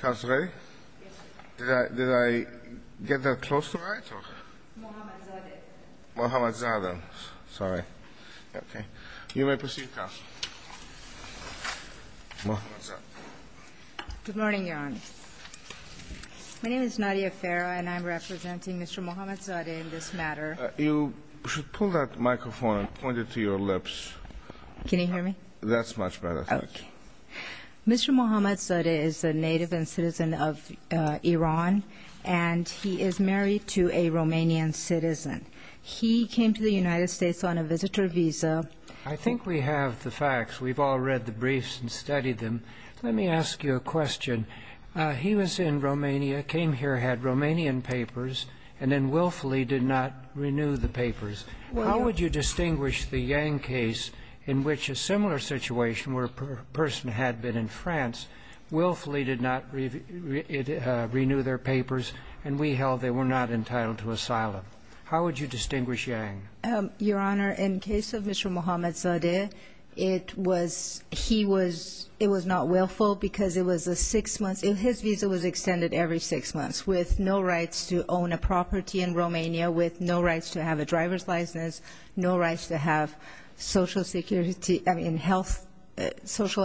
Good morning, Your Honor. My name is Nadia Farah and I'm representing Mr. Mohammadzadeh in this matter. You should pull that microphone and point it to your lips. Can you hear me? That's much better. Mr. Mohammadzadeh is a native and citizen of Iran and he is married to a Romanian citizen. He came to the United States on a visitor visa. I think we have the facts. We've all read the briefs and studied them. Let me ask you a question. He was in Romania, came here, had Romanian papers, and then willfully did not renew the papers. How would you distinguish the Yang case in which a similar situation where a person had been in France, willfully did not renew their papers, and we held they were not entitled to asylum? How would you distinguish Yang? Your Honor, in the case of Mr. Mohammadzadeh, it was not willful because his visa was extended every six months with no rights to own a property in Romania, with no rights to have a driver's license, no rights to have social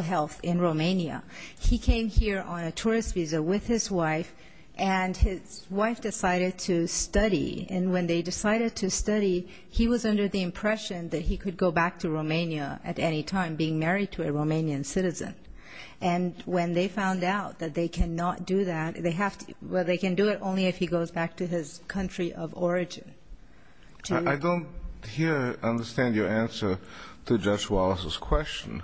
health in Romania. He came here on a tourist visa with his wife and his wife decided to study. And when they decided to study, he was under the impression that he could go back to Romania at any time, being married to a Romanian citizen. And when they found out that they cannot do that, well, they can do it only if he goes back to his country of origin. I don't hear, understand your answer to Judge Wallace's question.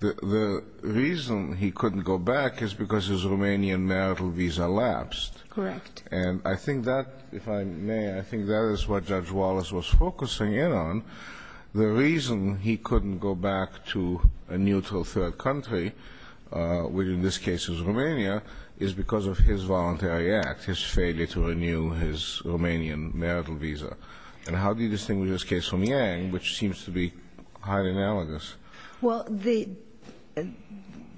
The reason he couldn't go back is because his Romanian marital visa lapsed. Correct. And I think that, if I may, I think that is what Judge Wallace was focusing in on. The reason he couldn't go back to a neutral third country, which in this case is Romania, is because of his voluntary act, his failure to renew his Romanian marital visa. And how do you distinguish this case from Yang, which seems to be highly analogous? Well,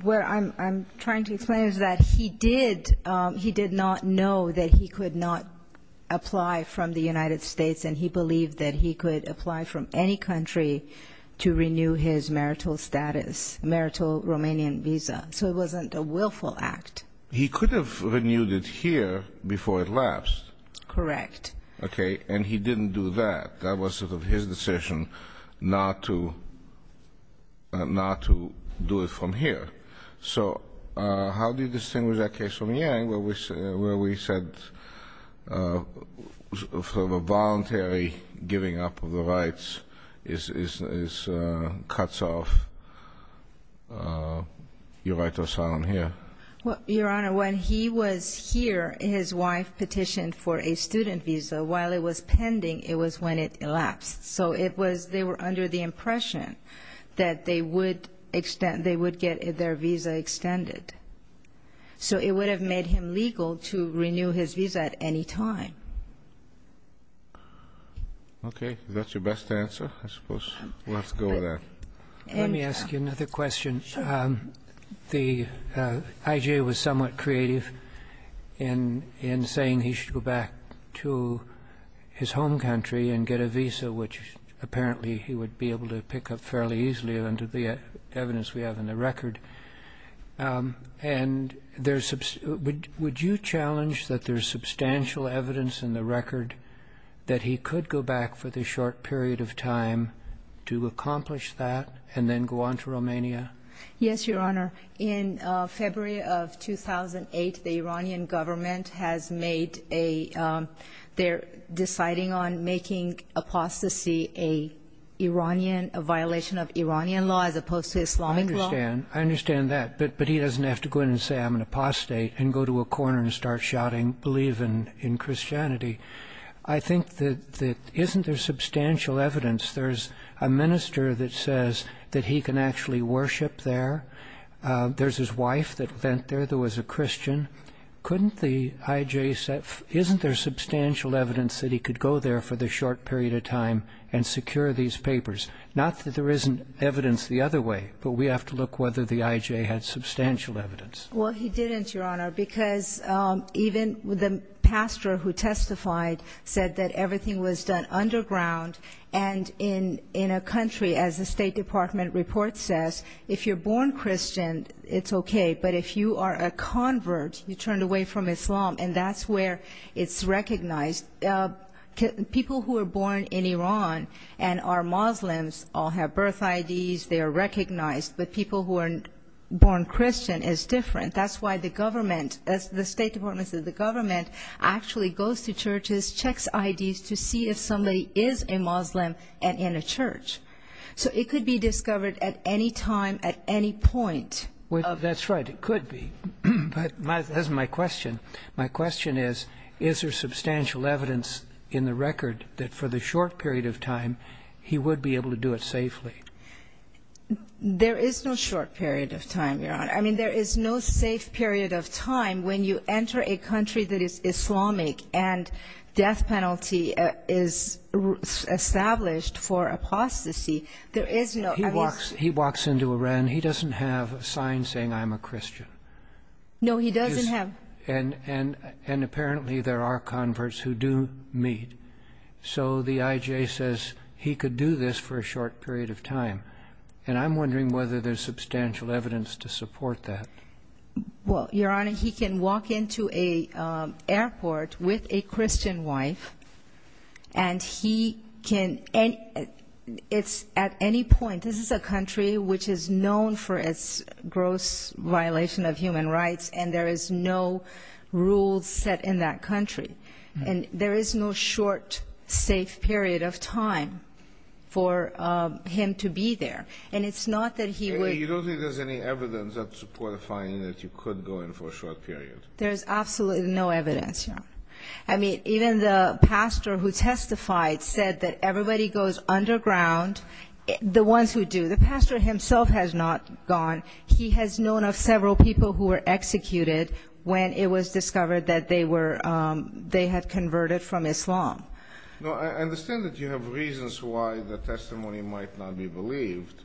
where I'm trying to explain is that he did not know that he could not apply from the United States and he believed that he could apply from any country to renew his marital status, marital Romanian visa. So it wasn't a willful act. He could have renewed it here before it lapsed. Correct. Okay. And he didn't do that. That was sort of his decision not to do it from here. Okay. So how do you distinguish that case from Yang where we said sort of a voluntary giving up of the rights is cuts off your right to asylum here? Well, Your Honor, when he was here, his wife petitioned for a student visa. While it was pending, it was when it elapsed. So it was they were under the impression that they would get their visa extended. So it would have made him legal to renew his visa at any time. Okay. Is that your best answer? I suppose we'll have to go with that. Let me ask you another question. The IG was somewhat creative in saying he should go back to his home country and get a visa, which apparently he would be able to pick up fairly easily under the evidence we have in the record. And would you challenge that there's substantial evidence in the record that he could go back for the short period of time to accomplish that and then go on to Romania? Yes, Your Honor. In February of 2008, the Iranian government has made a ‑‑ they're deciding on making apostasy a violation of Iranian law as opposed to Islamic law. I understand. I understand that. But he doesn't have to go in and say, I'm an apostate, and go to a corner and start shouting, believe in Christianity. I think that isn't there substantial evidence? There's a minister that says that he can actually worship there. There's his wife that went there that was a Christian. Couldn't the IJ ‑‑ isn't there substantial evidence that he could go there for the short period of time and secure these papers? Not that there isn't evidence the other way, but we have to look whether the IJ had substantial evidence. Well, he didn't, Your Honor, because even the pastor who testified said that everything was done underground and in a country, as the State Department report says, if you're born Christian, it's okay, but if you are a convert, you're turned away from Islam, and that's where it's recognized. People who are born in Iran and are Muslims all have birth IDs. They are recognized, but people who are born Christian is different. That's why the government, the State Department says the government actually goes to churches, checks IDs to see if somebody is a Muslim and in a church. So it could be discovered at any time, at any point. That's right. It could be. But that's my question. My question is, is there substantial evidence in the record that for the short period of time he would be able to do it safely? There is no short period of time, Your Honor. I mean, there is no safe period of time when you enter a country that is Islamic and death penalty is established for apostasy. There is no ‑‑ He walks into Iran. He doesn't have a sign saying, I'm a Christian. No, he doesn't have. And apparently there are converts who do meet. So the IJ says he could do this for a short period of time. And I'm wondering whether there's substantial evidence to support that. Well, Your Honor, he can walk into an airport with a Christian wife, and he can ‑‑ it's at any point, this is a country which is known for its gross violation of human rights, and there is no rules set in that country. And there is no short, safe period of time for him to be there. And it's not that he would ‑‑ You don't think there's any evidence that's qualifying that you could go in for a short period? There is absolutely no evidence, Your Honor. I mean, even the pastor who testified said that everybody goes underground, the ones who do. The pastor himself has not gone. He has known of several people who were executed when it was discovered that they were ‑‑ they had converted from Islam. No, I understand that you have reasons why the testimony might not be believed.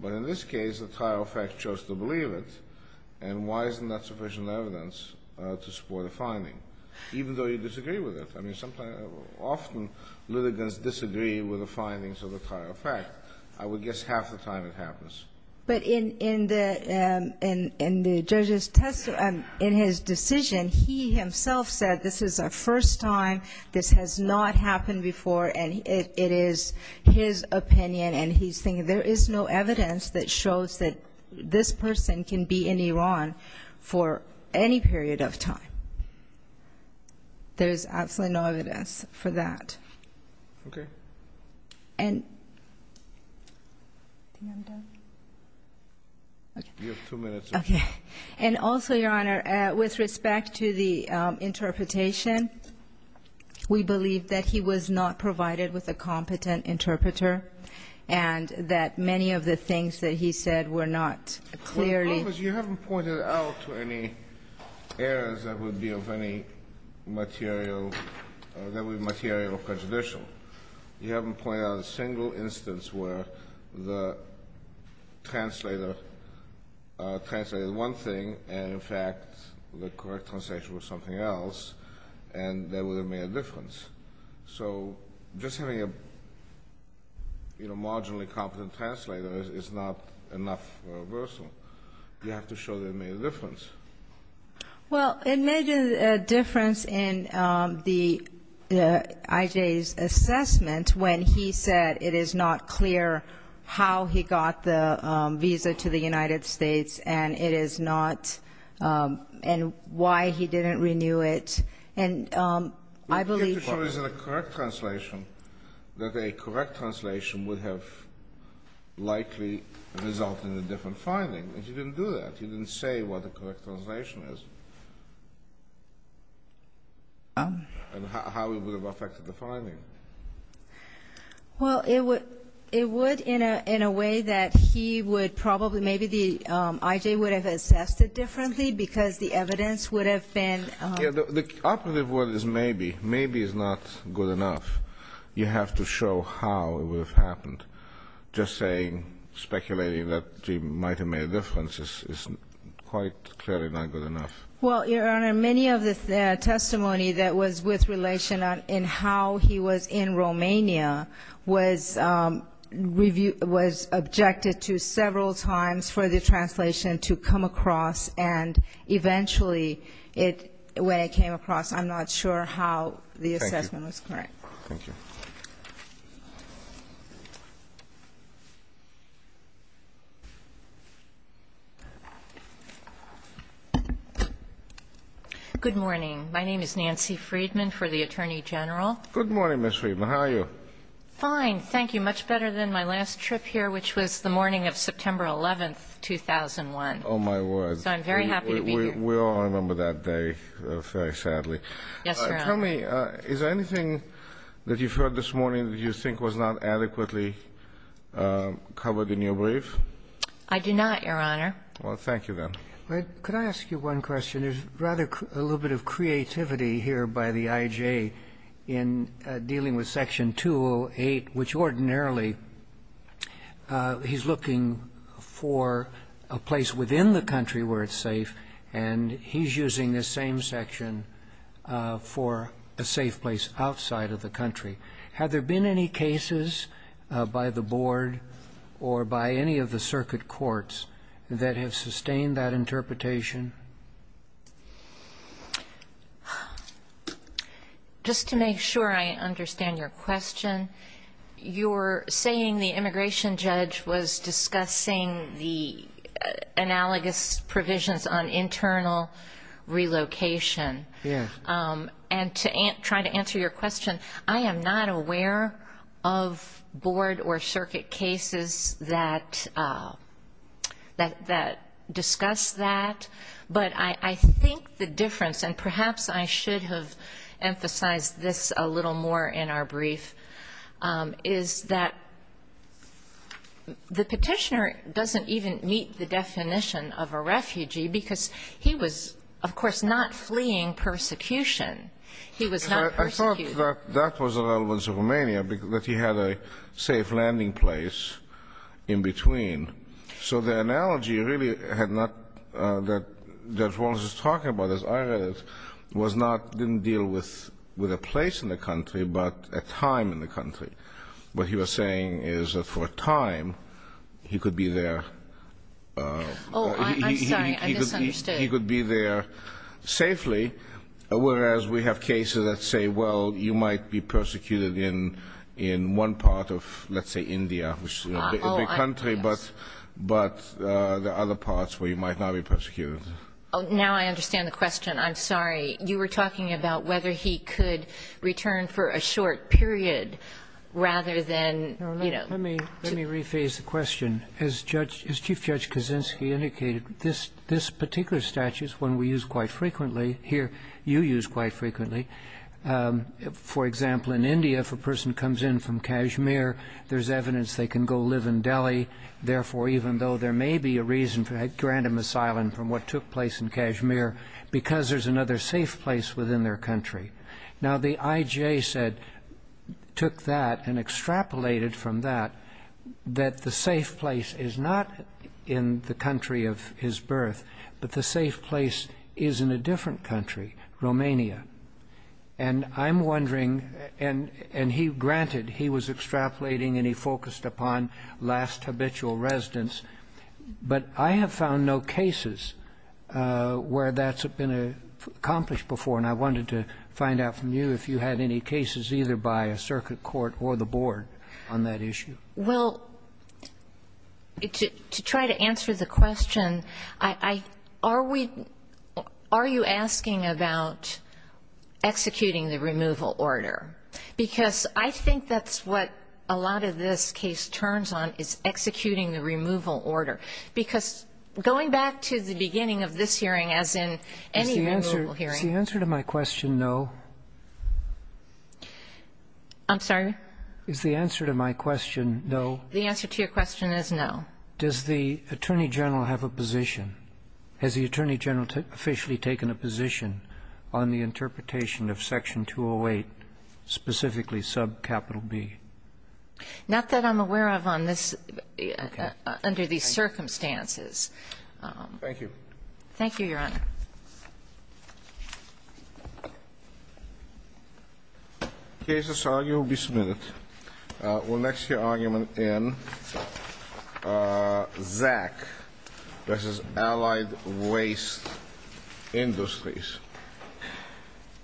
But in this case, the trial of fact chose to believe it. And why isn't that sufficient evidence to support a finding, even though you disagree with it? I mean, often litigants disagree with the findings of the trial of fact. I would guess half the time it happens. But in the judge's testimony, in his decision, he himself said this is a first time, this has not happened before, and it is his opinion, and he's thinking there is no evidence that shows that this person can be in Iran for any period of time. There is absolutely no evidence for that. Okay. And also, Your Honor, with respect to the interpretation, we believe that he was not provided with a competent interpreter and that many of the things that he said were not clearly ‑‑ you haven't pointed out a single instance where the translator translated one thing and, in fact, the correct translation was something else, and that would have made a difference. So just having a marginally competent translator is not enough for a reversal. You have to show that it made a difference. Well, it made a difference in the ‑‑ I.J.'s assessment when he said it is not clear how he got the visa to the United States and it is not ‑‑ and why he didn't renew it. And I believe ‑‑ But you have to show as a correct translation that a correct translation would have likely resulted in a different finding. And you didn't do that. You didn't say what a correct translation is and how it would have affected the finding. Well, it would in a way that he would probably ‑‑ maybe I.J. would have assessed it differently because the evidence would have been ‑‑ The operative word is maybe. Maybe is not good enough. You have to show how it would have happened. Just saying, speculating that he might have made a difference is quite clearly not good enough. Well, Your Honor, many of the testimony that was with relation in how he was in Romania was objected to several times for the translation to come across, and eventually when it came across, I'm not sure how the assessment was correct. Thank you. Thank you. Good morning. My name is Nancy Friedman for the Attorney General. Good morning, Ms. Friedman. How are you? Fine, thank you. Much better than my last trip here, which was the morning of September 11th, 2001. Oh, my word. So I'm very happy to be here. We all remember that day very sadly. Yes, Your Honor. Tell me, is there anything that you've heard this morning that you think was not adequately covered in your brief? I do not, Your Honor. Well, thank you, then. Could I ask you one question? There's rather a little bit of creativity here by the IJ in dealing with Section 208, which ordinarily he's looking for a place within the country where it's safe, and he's using this same section for a safe place outside of the country. Had there been any cases by the Board or by any of the circuit courts that have sustained that interpretation? Just to make sure I understand your question, you're saying the immigration judge was looking for an internal relocation. Yes. And to try to answer your question, I am not aware of Board or circuit cases that discuss that. But I think the difference, and perhaps I should have emphasized this a little more in our brief, is that the petitioner doesn't even meet the definition of a refugee, because he was, of course, not fleeing persecution. He was not persecuting. I thought that that was relevant to Romania, that he had a safe landing place in between. So the analogy really had not been what I was talking about, as I read it, was not didn't deal with a place in the country, but a time in the country. What he was saying is that for a time, he could be there. Oh, I'm sorry. I misunderstood. He could be there safely, whereas we have cases that say, well, you might be persecuted in one part of, let's say, India, which is a big country, but there are other parts where you might not be persecuted. Now I understand the question. I'm sorry. You were talking about whether he could return for a short period rather than, you know. Let me rephrase the question. As Chief Judge Kaczynski indicated, this particular statute is one we use quite frequently, here you use quite frequently. For example, in India, if a person comes in from Kashmir, there's evidence they can go live in Delhi. Therefore, even though there may be a reason for that grand asylum from what took place in Kashmir, because there's another safe place within their country. Now, the IJA said, took that and extrapolated from that, that the safe place is not in the country of his birth, but the safe place is in a different country, Romania. And I'm wondering, and he granted he was extrapolating and he focused upon last where that's been accomplished before. And I wanted to find out from you if you had any cases either by a circuit court or the board on that issue. Well, to try to answer the question, I, are we, are you asking about executing the removal order? Because I think that's what a lot of this case turns on, is executing the removal order. Because going back to the beginning of this hearing as in any removal hearing. Is the answer to my question no? I'm sorry? Is the answer to my question no? The answer to your question is no. Does the Attorney General have a position? Has the Attorney General officially taken a position on the interpretation of Section 208, specifically subcapital B? Not that I'm aware of on this, under these circumstances. Thank you. Thank you, Your Honor. The case that's argued will be submitted. We'll next hear argument in Zach versus Allied Waste Industries.